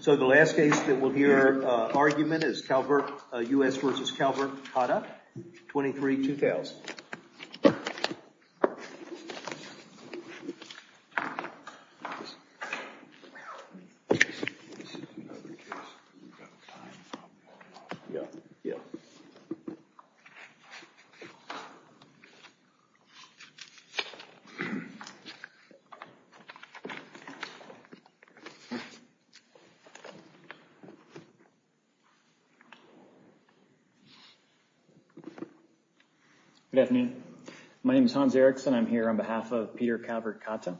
So the last case that we'll hear argument is Calvert-U.S. v. Calvert-Cata, 23-2,000. Yeah, yeah. Good afternoon. My name is Hans Erickson. I'm here on behalf of Peter Calvert-Cata.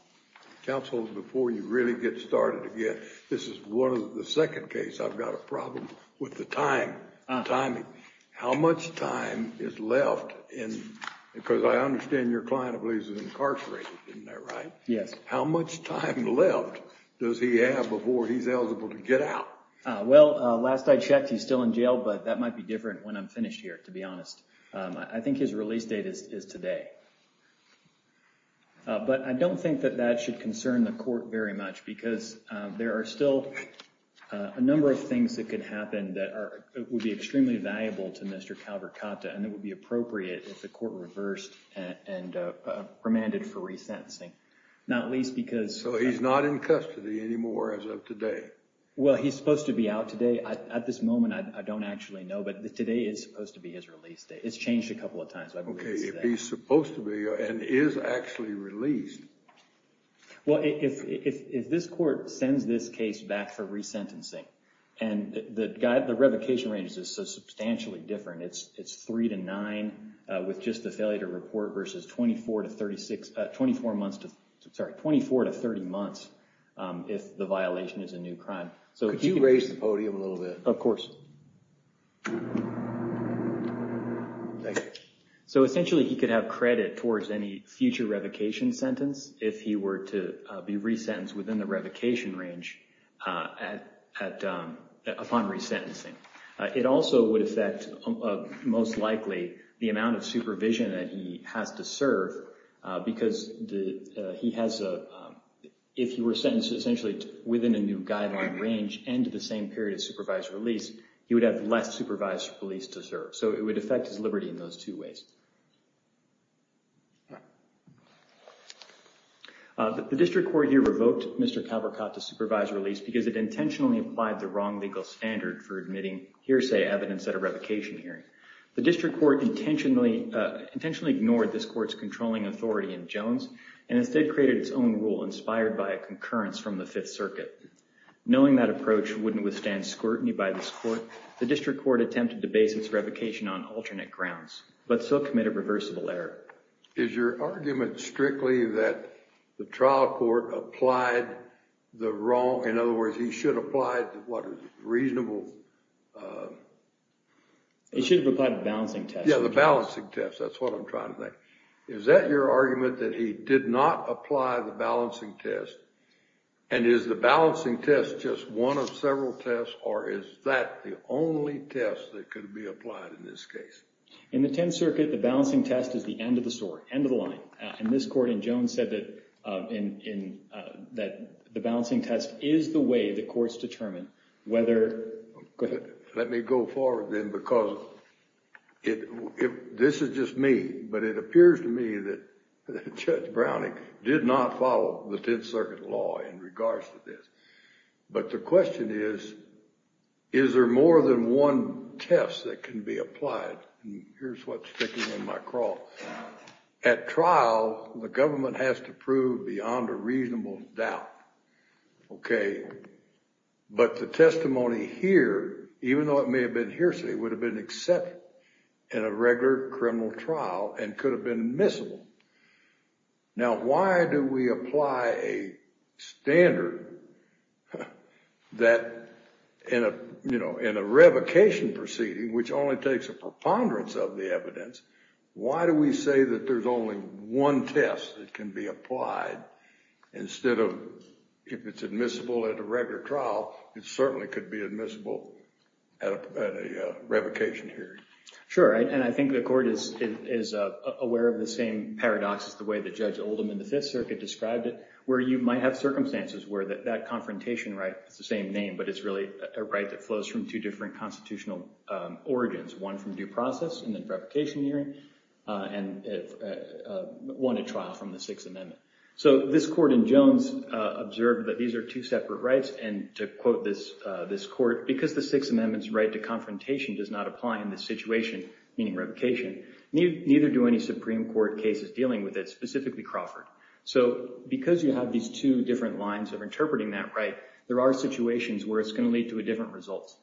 Counsel, before you really get started again, this is one of the second case I've got a problem with the time, the timing. How much time is left in, because I understand your client I believe is incarcerated, isn't that right? Yes. How much time left does he have before he's eligible to get out? Well, last I checked, he's still in jail, but that might be different when I'm finished here, to be honest. I think his release date is today. But I don't think that that should concern the court very much because there are still a number of things that could happen that would be extremely valuable to Mr. Calvert-Cata and it would be appropriate if the court reversed and remanded for resentencing, not least because... So he's not in custody anymore as of today? Well, he's supposed to be out today. At this moment, I don't actually know, but today is supposed to be his release date. It's changed a couple of times. Okay, if he's supposed to be and is actually released. Well, if this court sends this case back for resentencing and the revocation range is so substantially different, it's 3-9 with just the failure to report versus 24-30 months if the violation is a new crime. Could you raise the podium a little bit? Of course. So essentially, he could have credit towards any future revocation sentence if he were to be resentenced within the revocation range upon resentencing. It also would affect, most likely, the amount of supervision that he has to serve because he has a... If he were sentenced essentially within a new guideline range and to the same period of supervised release, he would have less supervised release to serve. So it would affect his liberty in those two ways. The district court here revoked Mr. Calvercott to supervised release because it intentionally applied the wrong legal standard for admitting hearsay evidence at a revocation hearing. The district court intentionally ignored this court's controlling authority in Jones and instead created its own rule inspired by a concurrence from the Fifth Circuit. Knowing that approach wouldn't withstand scrutiny by this court, the district court attempted to base its revocation on alternate grounds. But still committed reversible error. Is your argument strictly that the trial court applied the wrong... In other words, he should have applied what? A reasonable... He should have applied a balancing test. Yeah, the balancing test. That's what I'm trying to think. Is that your argument that he did not apply the balancing test? And is the balancing test just one of several tests or is that the only test that could be applied in this case? In the Tenth Circuit, the balancing test is the end of the story, end of the line. And this court in Jones said that the balancing test is the way the courts determine whether... Let me go forward then because this is just me, but it appears to me that Judge Browning did not follow the Tenth Circuit law in regards to this. But the question is, is there more than one test that can be applied? And here's what's sticking in my craw. At trial, the government has to prove beyond a reasonable doubt. Okay. But the testimony here, even though it may have been hearsay, would have been accepted in a regular criminal trial and could have been admissible. Now, why do we apply a standard that in a revocation proceeding, which only takes a preponderance of the evidence, why do we say that there's only one test that can be applied instead of... If it's admissible at a regular trial, it certainly could be admissible at a revocation hearing. Sure. And I think the court is aware of the same paradox as the way that Judge Oldham in the Fifth Circuit described it, where you might have circumstances where that confrontation right, it's the same name, but it's really a right that flows from two different constitutional origins, one from due process and then revocation hearing, and one at trial from the Sixth Amendment. So this court in Jones observed that these are two separate rights. And to quote this court, because the Sixth Amendment's right to confrontation does not apply in this situation, meaning revocation, neither do any Supreme Court cases dealing with it, specifically Crawford. So because you have these two different lines of interpreting that right, there are situations where it's going to lead to a different result.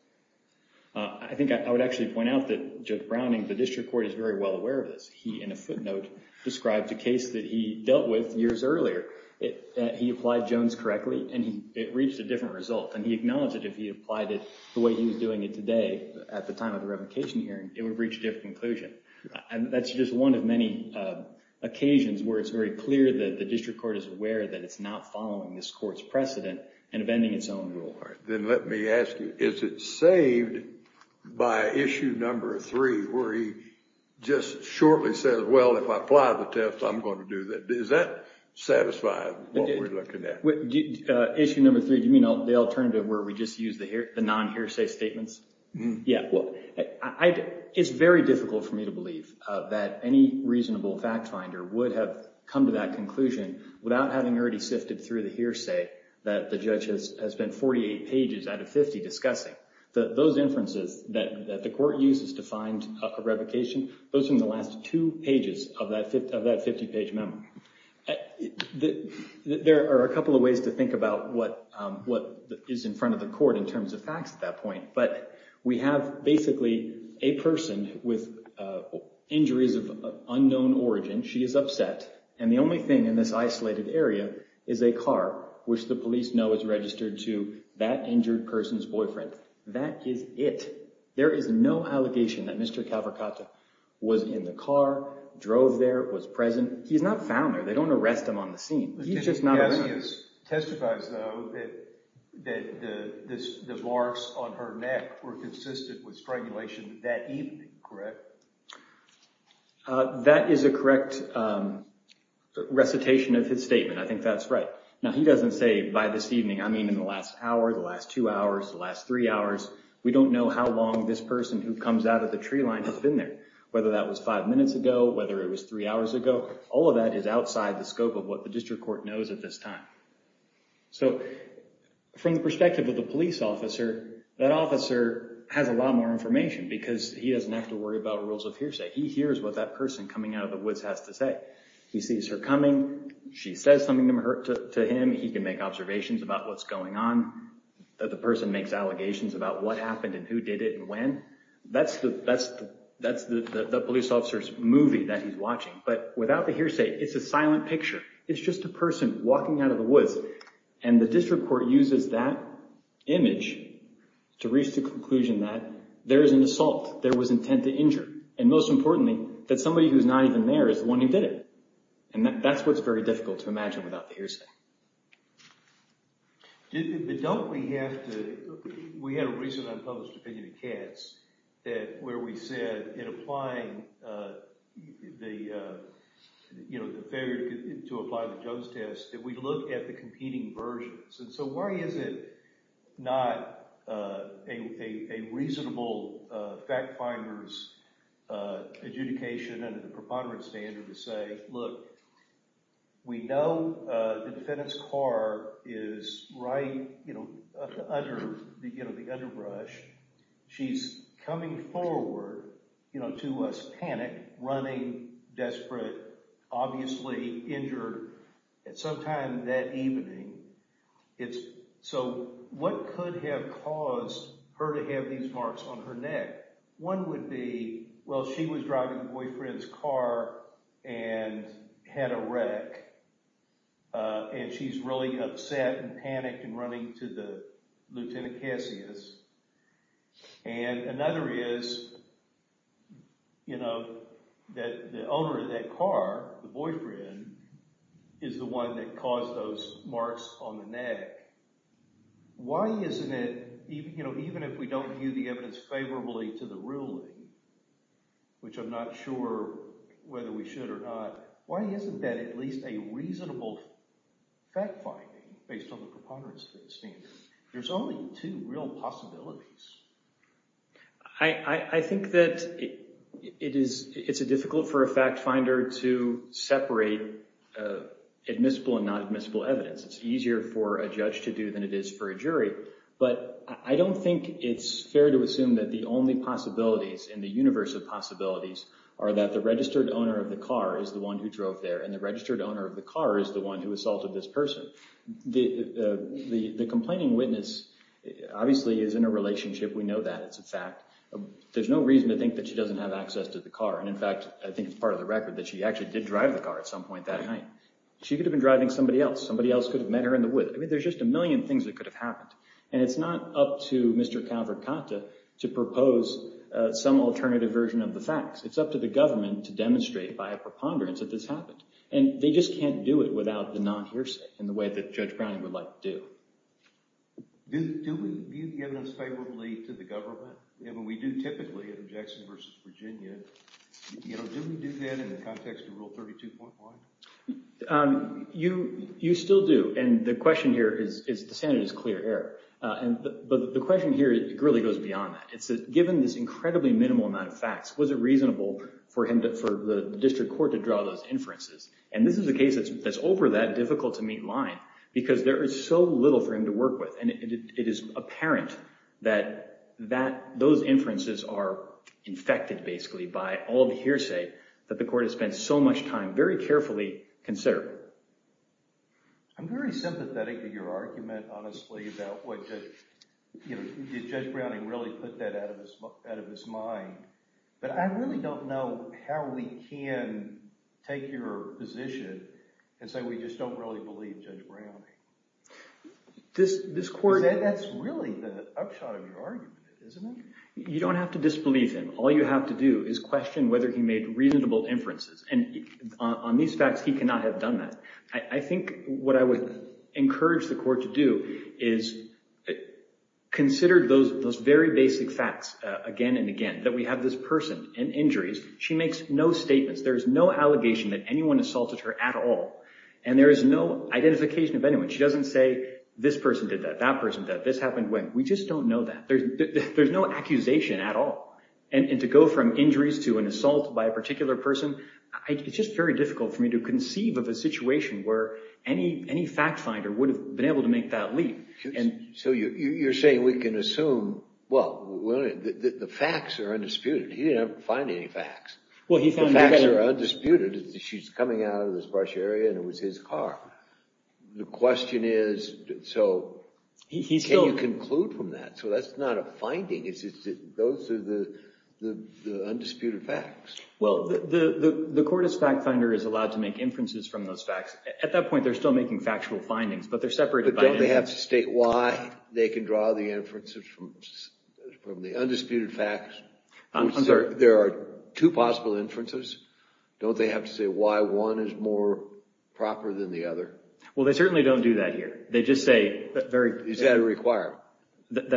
I think I would actually point out that Judge Browning, the district court, is very well aware of this. He, in a footnote, described a case that he dealt with years earlier. He applied Jones correctly, and it reached a different result. And he acknowledged that if he applied it the way he was doing it today at the time of the revocation hearing, it would reach a different conclusion. And that's just one of many occasions where it's very clear that the district court is aware that it's not following this court's precedent and amending its own rule. Then let me ask you, is it saved by issue number three, where he just shortly says, well, if I apply the test, I'm going to do that. Does that satisfy what we're looking at? Issue number three, do you mean the alternative where we just use the non-hearsay statements? Yeah. It's very difficult for me to believe that any reasonable fact finder would have come to that conclusion without having already sifted through the hearsay that the judge has spent 48 pages out of 50 discussing. Those inferences that the court uses to find a revocation, those are in the last two pages of that 50-page memo. There are a couple of ways to think about what is in front of the court in terms of facts at that point. But we have basically a person with injuries of unknown origin. She is upset. And the only thing in this isolated area is a car, which the police know is registered to that injured person's boyfriend. That is it. There is no allegation that Mr. Cavercato was in the car, drove there, was present. He's not found there. They don't arrest him on the scene. He's just not a witness. The witness testifies, though, that the marks on her neck were consistent with strangulation that evening, correct? That is a correct recitation of his statement. I think that's right. Now, he doesn't say by this evening. I mean in the last hour, the last two hours, the last three hours. We don't know how long this person who comes out of the tree line has been there, whether that was five minutes ago, whether it was three hours ago. All of that is outside the scope of what the district court knows at this time. So from the perspective of the police officer, that officer has a lot more information because he doesn't have to worry about rules of hearsay. He hears what that person coming out of the woods has to say. He sees her coming. She says something to him. He can make observations about what's going on. The person makes allegations about what happened and who did it and when. That's the police officer's movie that he's watching. But without the hearsay, it's a silent picture. It's just a person walking out of the woods. And the district court uses that image to reach the conclusion that there is an assault. There was intent to injure. And most importantly, that somebody who's not even there is the one who did it. And that's what's very difficult to imagine without the hearsay. But don't we have to – we had a recent unpublished opinion in Katz that – where we said in applying the – you know, the failure to apply the Jones test that we look at the competing versions. And so why is it not a reasonable fact finder's adjudication under the preponderance standard to say, look, we know the defendant's car is right under the underbrush. She's coming forward to us panicked, running, desperate, obviously injured at some time that evening. It's – so what could have caused her to have these marks on her neck? One would be, well, she was driving her boyfriend's car and had a wreck. And she's really upset and panicked and running to the Lieutenant Cassius. And another is, you know, that the owner of that car, the boyfriend, is the one that caused those marks on the neck. Why isn't it – you know, even if we don't view the evidence favorably to the ruling, which I'm not sure whether we should or not, why isn't that at least a reasonable fact finding based on the preponderance standard? There's only two real possibilities. I think that it is – it's difficult for a fact finder to separate admissible and non-admissible evidence. It's easier for a judge to do than it is for a jury. But I don't think it's fair to assume that the only possibilities in the universe of possibilities are that the registered owner of the car is the one who drove there and the registered owner of the car is the one who assaulted this person. The complaining witness obviously is in a relationship. We know that. It's a fact. There's no reason to think that she doesn't have access to the car. And in fact, I think it's part of the record that she actually did drive the car at some point that night. She could have been driving somebody else. Somebody else could have met her in the woods. I mean there's just a million things that could have happened. And it's not up to Mr. Calvert-Conta to propose some alternative version of the facts. It's up to the government to demonstrate by a preponderance that this happened. And they just can't do it without the non-hearsay in the way that Judge Browning would like to do. Do we view the evidence favorably to the government? We do typically in Jackson v. Virginia. Do we do that in the context of Rule 32.1? You still do. And the question here is the standard is clear error. But the question here really goes beyond that. Given this incredibly minimal amount of facts, was it reasonable for the district court to draw those inferences? And this is a case that's over that difficult-to-meet line because there is so little for him to work with. And it is apparent that those inferences are infected basically by all the hearsay that the court has spent so much time very carefully considering. I'm very sympathetic to your argument, honestly, about did Judge Browning really put that out of his mind. But I really don't know how we can take your position and say we just don't really believe Judge Browning. That's really the upshot of your argument, isn't it? You don't have to disbelieve him. All you have to do is question whether he made reasonable inferences. And on these facts, he cannot have done that. I think what I would encourage the court to do is consider those very basic facts again and again, that we have this person in injuries. She makes no statements. There is no allegation that anyone assaulted her at all. And there is no identification of anyone. She doesn't say this person did that, that person did that, this happened, went. We just don't know that. There's no accusation at all. And to go from injuries to an assault by a particular person, it's just very difficult for me to conceive of a situation where any fact finder would have been able to make that leap. So you're saying we can assume, well, the facts are undisputed. He didn't find any facts. The facts are undisputed. She's coming out of this brush area, and it was his car. The question is, so can you conclude from that? So that's not a finding. Those are the undisputed facts. Well, the court is fact finder is allowed to make inferences from those facts. At that point, they're still making factual findings, but they're separated by inference. But don't they have to state why they can draw the inferences from the undisputed facts? There are two possible inferences. Don't they have to say why one is more proper than the other? Well, they certainly don't do that here. They just say that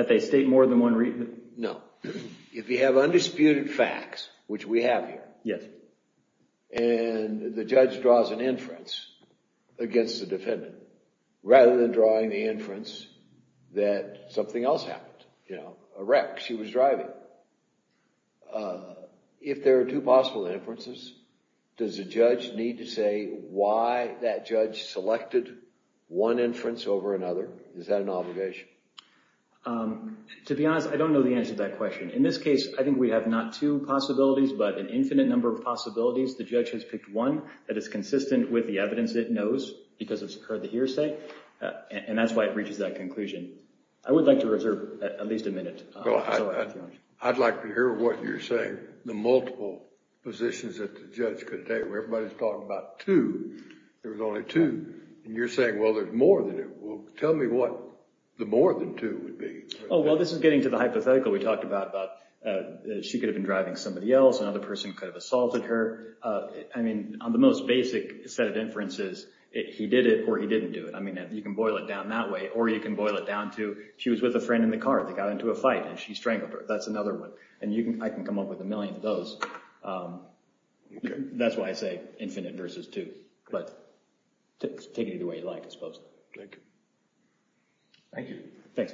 they state more than one reason. No. If you have undisputed facts, which we have here, and the judge draws an inference against the defendant, rather than drawing the inference that something else happened, you know, a wreck, she was driving. If there are two possible inferences, does the judge need to say why that judge selected one inference over another? Is that an obligation? To be honest, I don't know the answer to that question. In this case, I think we have not two possibilities, but an infinite number of possibilities. The judge has picked one that is consistent with the evidence it knows because it's heard the hearsay, and that's why it reaches that conclusion. I would like to reserve at least a minute. I'd like to hear what you're saying, the multiple positions that the judge could take. Everybody's talking about two. There was only two. And you're saying, well, there's more than two. Tell me what the more than two would be. Oh, well, this is getting to the hypothetical we talked about. She could have been driving somebody else. Another person could have assaulted her. I mean, on the most basic set of inferences, he did it or he didn't do it. I mean, you can boil it down that way, or you can boil it down to, she was with a friend in the car. They got into a fight, and she strangled her. That's another one. And I can come up with a million of those. That's why I say infinite versus two. But take it either way you like, I suppose. Thank you. Thank you. Thanks.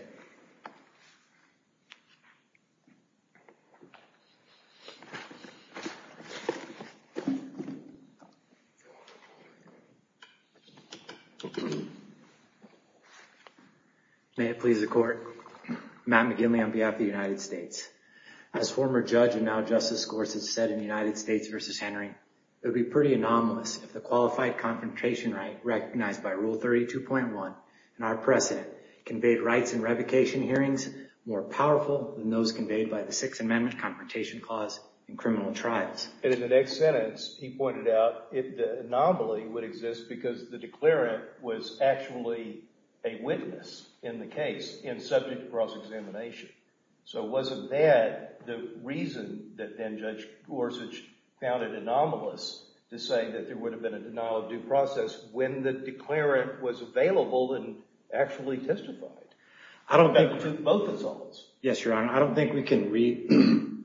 May it please the court. Matt McGinley on behalf of the United States. As former judge and now Justice Gorsuch said in United States versus Henry, it would be pretty anomalous if the qualified confrontation right recognized by Rule 32.1 and our precedent conveyed rights and revocation Thank you. Sixth Amendment confrontation clause in criminal trials. And in the next sentence, he pointed out if the anomaly would exist because the declarant was actually a witness in the case and subject to cross-examination. So wasn't that the reason that then Judge Gorsuch found it anomalous to say that there would have been a denial of due process when the declarant was available and actually testified? I don't think both of those. Yes, Your Honor. I don't think we can read.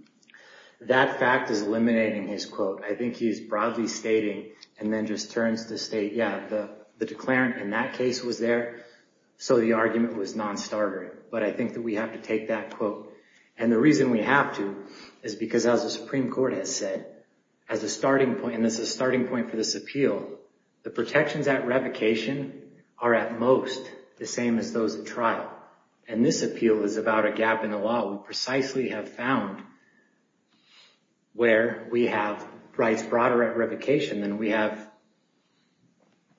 That fact is eliminating his quote. I think he's broadly stating and then just turns to state, yeah, the declarant in that case was there. So the argument was non-starter. But I think that we have to take that quote. And the reason we have to is because as the Supreme Court has said, as a starting point, and this is a starting point for this appeal, the protections at revocation are at most the same as those at trial. And this appeal is about a gap in the law. We precisely have found where we have rights broader at revocation than we have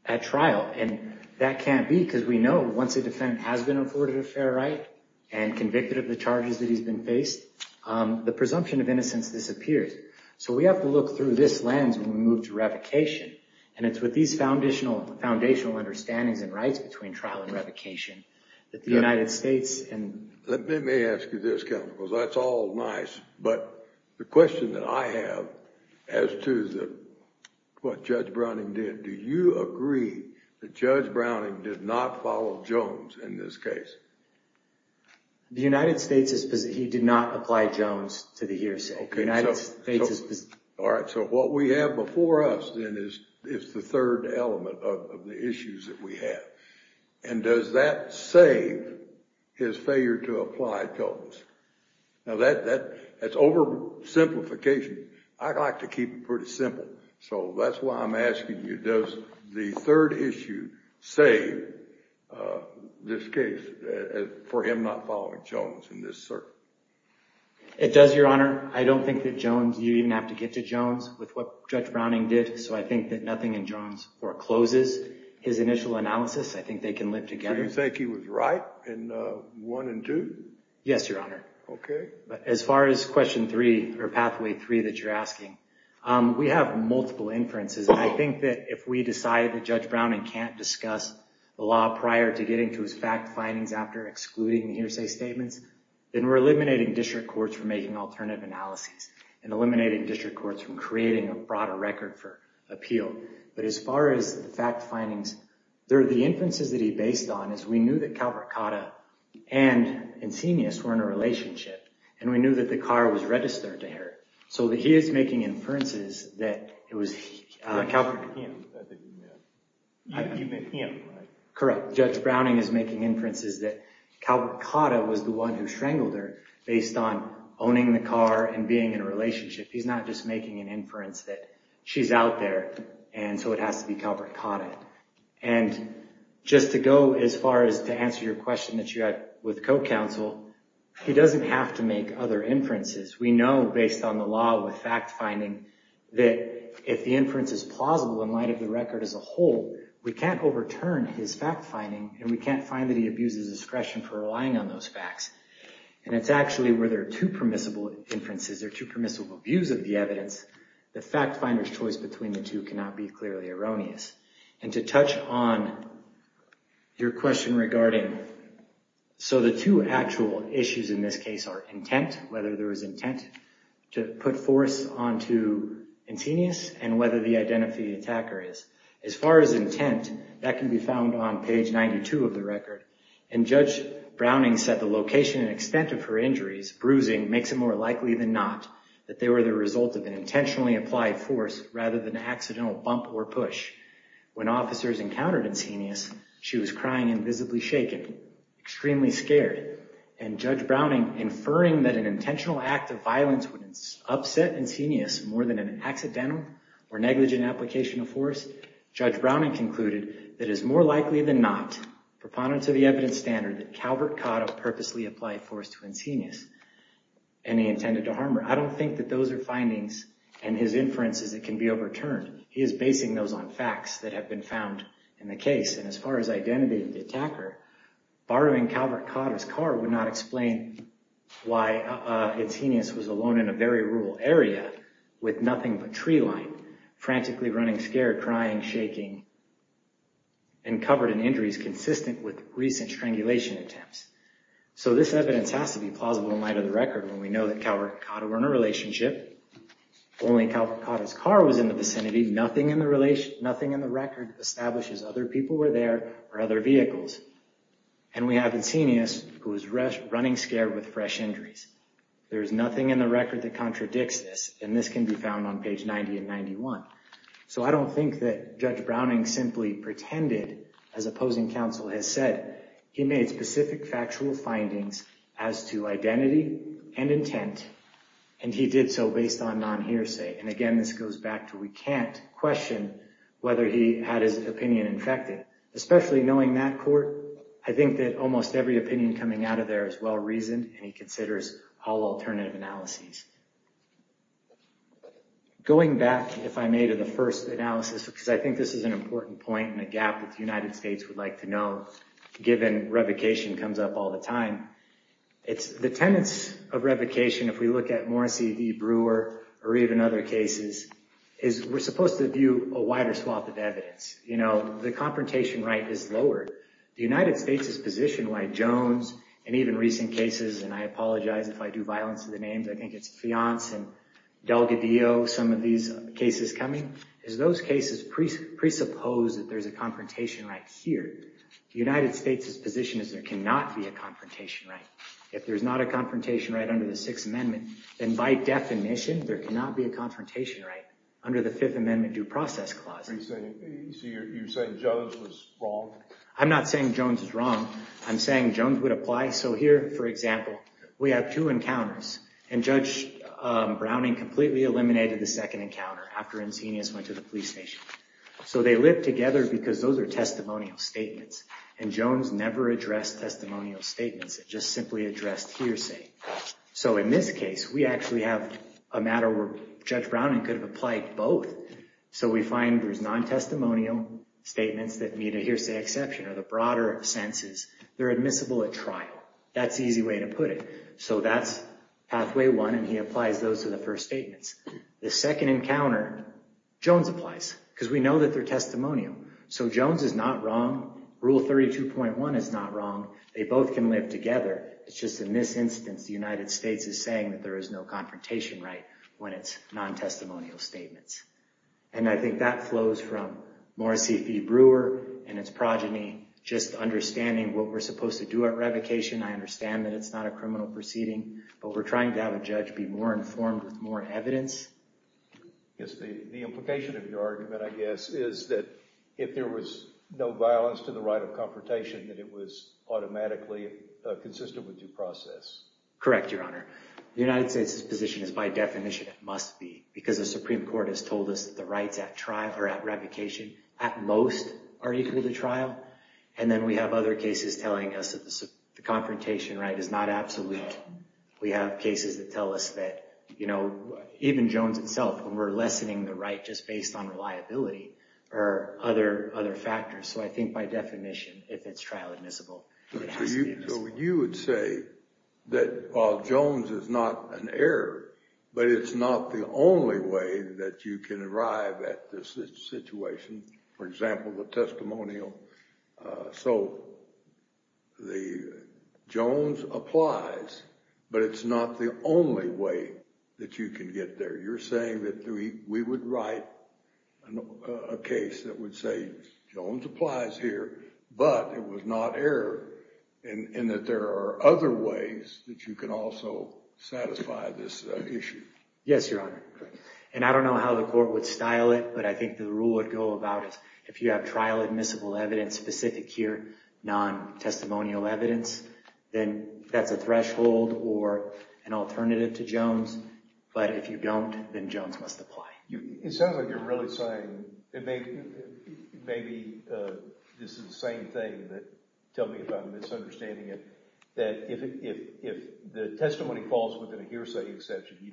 at trial. And that can't be because we know once a defendant has been afforded a fair right and convicted of the charges that he's been faced, the presumption of innocence disappears. So we have to look through this lens when we move to revocation. And it's with these foundational understandings and rights between trial and revocation that the United States and- Let me ask you this, Counsel, because that's all nice. But the question that I have as to what Judge Browning did, do you agree that Judge Browning did not follow Jones in this case? The United States is-he did not apply Jones to the hearsay. The United States is- All right. So what we have before us then is the third element of the issues that we have. And does that save his failure to apply Jones? Now, that's oversimplification. I like to keep it pretty simple. So that's why I'm asking you, does the third issue save this case for him not following Jones in this search? It does, Your Honor. I don't think that Jones-you even have to get to Jones with what Judge Browning did, so I think that nothing in Jones forecloses his initial analysis. I think they can live together. Do you think he was right in one and two? Yes, Your Honor. Okay. But as far as question three or pathway three that you're asking, we have multiple inferences. And I think that if we decide that Judge Browning can't discuss the law prior to getting to his fact findings after excluding the hearsay statements, then we're eliminating district courts from making alternative analyses and eliminating district courts from creating a broader record for appeal. But as far as the fact findings, the inferences that he based on is we knew that Calvert-Cotta and Insinius were in a relationship, and we knew that the car was registered to her. So he is making inferences that it was- Calvert-him that you meant. You meant him, right? Correct. Judge Browning is making inferences that Calvert-Cotta was the one who strangled her based on owning the car and being in a relationship. He's not just making an inference that she's out there, and so it has to be Calvert-Cotta. And just to go as far as to answer your question that you had with co-counsel, he doesn't have to make other inferences. We know based on the law with fact finding that if the inference is plausible in light of the record as a whole, we can't overturn his fact finding, and we can't find that he abuses discretion for relying on those facts. And it's actually where there are two permissible inferences, there are two permissible views of the evidence. The fact finder's choice between the two cannot be clearly erroneous. And to touch on your question regarding, so the two actual issues in this case are intent, whether there was intent to put force onto Antenius, and whether the identity of the attacker is. As far as intent, that can be found on page 92 of the record. And Judge Browning said the location and extent of her injuries, bruising, makes it more likely than not that they were the result of an intentionally applied force rather than an accidental bump or push. When officers encountered Antenius, she was crying and visibly shaken, extremely scared. And Judge Browning inferring that an intentional act of violence would upset Antenius more than an accidental or negligent application of force, Judge Browning concluded that it is more likely than not, proponent to the evidence standard, that Calvert Cotta purposely applied force to Antenius. And he intended to harm her. I don't think that those are findings and his inference is it can be overturned. He is basing those on facts that have been found in the case. And as far as identity of the attacker, borrowing Calvert Cotta's car would not explain why Antenius was alone in a very rural area with nothing but tree line, frantically running, scared, crying, shaking, and covered in injuries consistent with recent strangulation attempts. So this evidence has to be plausible in light of the record when we know that Calvert Cotta were in a relationship, only Calvert Cotta's car was in the vicinity, nothing in the record establishes other people were there or other vehicles. And we have Antenius who was running scared with fresh injuries. There is nothing in the record that contradicts this, and this can be found on page 90 and 91. So I don't think that Judge Browning simply pretended, as opposing counsel has said. He made specific factual findings as to identity and intent, and he did so based on non-hearsay. And, again, this goes back to we can't question whether he had his opinion infected, especially knowing that court. I think that almost every opinion coming out of there is well-reasoned, and he considers all alternative analyses. Going back, if I may, to the first analysis, because I think this is an important point and a gap that the United States would like to know, given revocation comes up all the time. It's the tenets of revocation, if we look at Morrissey v. Brewer or even other cases, is we're supposed to view a wider swath of evidence. You know, the confrontation right is lowered. The United States' position, why Jones and even recent cases, and I apologize if I do violence to the names, I think it's Fiance and Delgadillo, some of these cases coming, is those cases presuppose that there's a The United States' position is there cannot be a confrontation right. If there's not a confrontation right under the Sixth Amendment, then by definition there cannot be a confrontation right under the Fifth Amendment Due Process Clause. So you're saying Jones was wrong? I'm not saying Jones was wrong. I'm saying Jones would apply. So here, for example, we have two encounters, and Judge Browning completely eliminated the second encounter after Encinias went to the police station. So they live together because those are testimonial statements, and Jones never addressed testimonial statements. It just simply addressed hearsay. So in this case, we actually have a matter where Judge Browning could have applied both. So we find there's non-testimonial statements that need a hearsay exception, or the broader sense is they're admissible at trial. That's the easy way to put it. So that's pathway one, and he applies those to the first statements. The second encounter, Jones applies because we know that they're testimonial. So Jones is not wrong. Rule 32.1 is not wrong. They both can live together. It's just in this instance the United States is saying that there is no confrontation right when it's non-testimonial statements. And I think that flows from Morrissey v. Brewer and its progeny, just understanding what we're supposed to do at revocation. I understand that it's not a criminal proceeding, but we're trying to have a judge be more informed with more evidence. Yes, the implication of your argument, I guess, is that if there was no violence to the right of confrontation, that it was automatically consistent with due process. Correct, Your Honor. The United States' position is by definition it must be because the Supreme Court has told us that the rights at trial or at revocation, at most, are equal to trial. And then we have other cases telling us that the confrontation right is not absolute. We have cases that tell us that even Jones itself, when we're lessening the right just based on reliability or other factors. So I think by definition, if it's trial admissible, it has to be admissible. So you would say that Jones is not an error, but it's not the only way that you can arrive at this situation. For example, the testimonial. So Jones applies, but it's not the only way that you can get there. You're saying that we would write a case that would say, Jones applies here, but it was not error, and that there are other ways that you can also satisfy this issue. Yes, Your Honor. And I don't know how the court would style it, but I think the rule would go about if you have trial admissible evidence specific here, non-testimonial evidence, then that's a threshold or an alternative to Jones. But if you don't, then Jones must apply. It sounds like you're really saying maybe this is the same thing, but tell me if I'm misunderstanding it, that if the testimony falls within a hearsay exception, you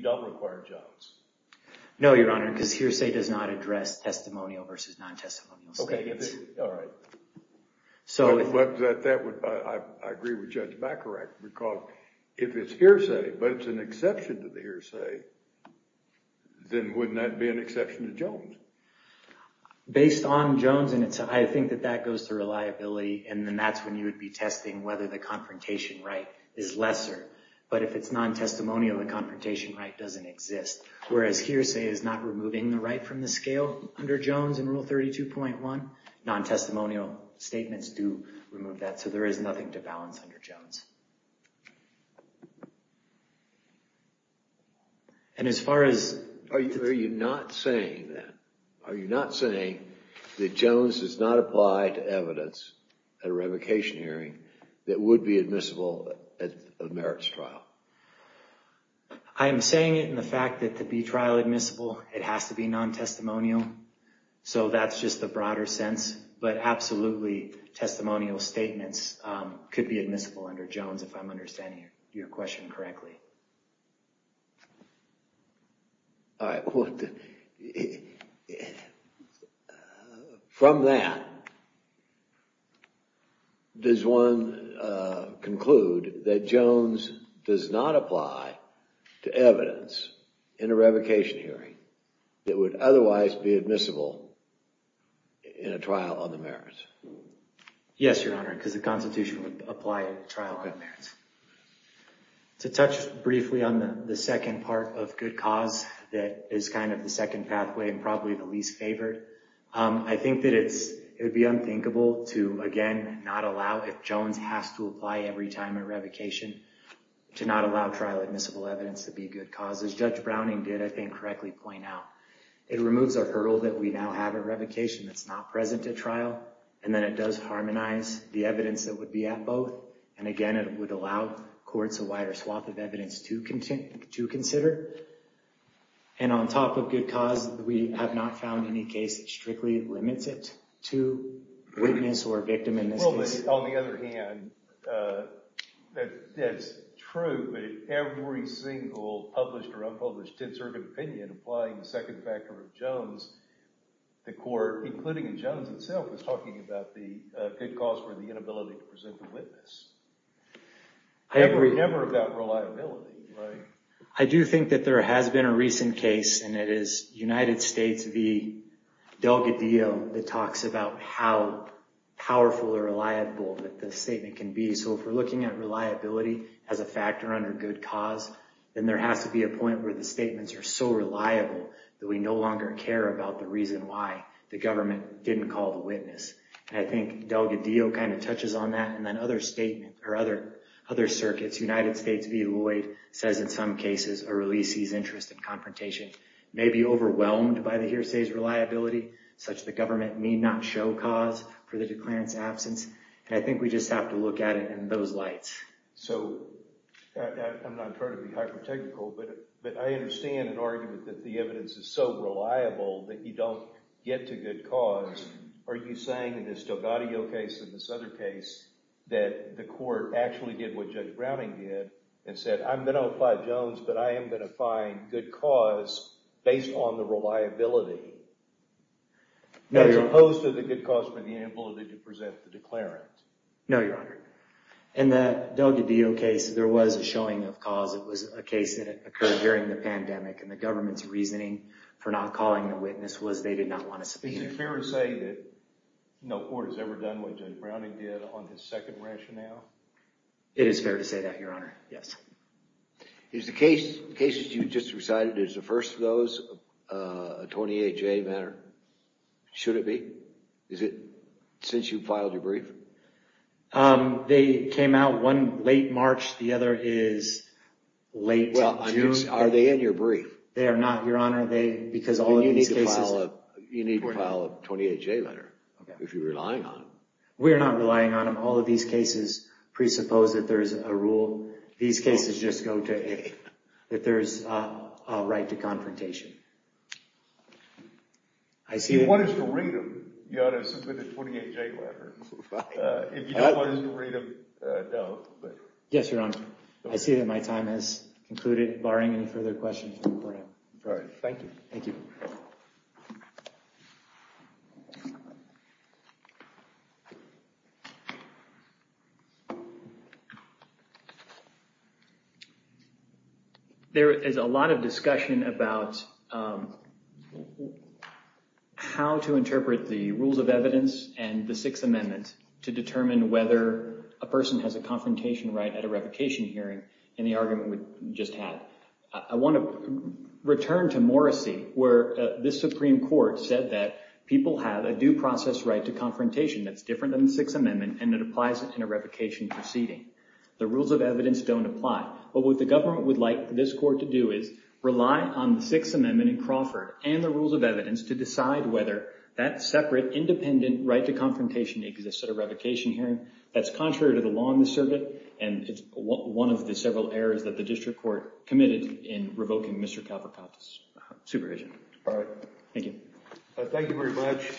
don't require Jones. No, Your Honor, because hearsay does not address testimonial versus non-testimonial statements. All right. I agree with Judge Bacharach, because if it's hearsay, but it's an exception to the hearsay, then wouldn't that be an exception to Jones? Based on Jones, I think that that goes to reliability, and then that's when you would be testing whether the confrontation right is lesser. But if it's non-testimonial, the confrontation right doesn't exist. Whereas hearsay is not removing the right from the scale under Jones in Rule 32.1, non-testimonial statements do remove that, so there is nothing to balance under Jones. And as far as— Are you not saying that? Are you not saying that Jones does not apply to evidence at a revocation hearing that would be admissible at a merits trial? I am saying it in the fact that to be trial admissible, it has to be non-testimonial. So that's just the broader sense. But absolutely, testimonial statements could be admissible under Jones, if I'm understanding your question correctly. All right. Well, from that, does one conclude that Jones does not apply to evidence in a revocation hearing that would otherwise be admissible in a trial on the merits? Yes, Your Honor, because the Constitution would apply a trial on the merits. To touch briefly on the second part of good cause that is kind of the second pathway and probably the least favored, I think that it would be unthinkable to, again, not allow—if Jones has to apply every time a revocation, to not allow trial admissible evidence to be a good cause. As Judge Browning did, I think, correctly point out, it removes our hurdle that we now have a revocation that's not present at trial, and then it does harmonize the evidence that would be at both. And again, it would allow courts a wider swath of evidence to consider. And on top of good cause, we have not found any case that strictly limits it to witness or victim in this case. Well, but on the other hand, that's true, but if every single published or unpublished did serve an opinion, applying the second factor of Jones, the court, including Jones itself, was talking about the good cause for the inability to present the witness. Never about reliability, right? I do think that there has been a recent case, and it is United States v. Delgadillo that talks about how powerful or reliable that the statement can be. So if we're looking at reliability as a factor under good cause, then there has to be a point where the statements are so reliable that we no longer care about the reason why the government didn't call the witness. And I think Delgadillo kind of touches on that, and then other circuits, United States v. Lloyd, says in some cases a release sees interest in confrontation, may be overwhelmed by the hearsay's reliability, such that government may not show cause for the declarant's absence. And I think we just have to look at it in those lights. So I'm not trying to be hyper-technical, but I understand an argument that the evidence is so reliable that you don't get to good cause. Are you saying in this Delgadillo case and this other case that the court actually did what Judge Browning did and said, I'm going to apply Jones, but I am going to find good cause based on the reliability, as opposed to the good cause for the inability to present the declarant? No, Your Honor. In that Delgadillo case, there was a showing of cause. It was a case that occurred during the pandemic, and the government's reasoning for not calling the witness was they did not want to speak. Is it fair to say that no court has ever done what Judge Browning did on his second rationale? It is fair to say that, Your Honor, yes. Is the case that you just recited, is the first of those a 28-J matter? Should it be? Is it since you filed your brief? They came out one late March. The other is late June. Are they in your brief? They are not, Your Honor. You need to file a 28-J letter if you're relying on them. We are not relying on them. All of these cases presuppose that there is a rule. These cases just go to A, that there is a right to confrontation. If you want us to read them, you ought to submit the 28-J letter. If you don't want us to read them, don't. Yes, Your Honor. I see that my time has concluded, barring any further questions. All right. Thank you. Thank you. There is a lot of discussion about how to interpret the rules of evidence and the Sixth Amendment to determine whether a person has a confrontation right at a revocation hearing in the argument we just had. I want to return to Morrissey where this Supreme Court said that people have a due process right to confrontation that's different than the Sixth Amendment and it applies in a revocation proceeding. The rules of evidence don't apply. What the government would like this court to do is rely on the Sixth Amendment in Crawford and the rules of evidence to decide whether that separate, independent right to confrontation exists at a revocation hearing. That's contrary to the law in the circuit and it's one of the several errors that the district court committed in revoking Mr. Cavacatt's supervision. All right. Thank you. Thank you very much.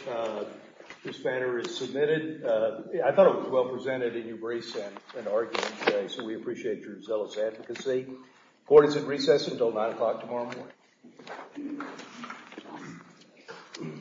This banner is submitted. I thought it was well presented and you braced an argument today, so we appreciate your zealous advocacy. Court is in recess until 9 o'clock tomorrow morning.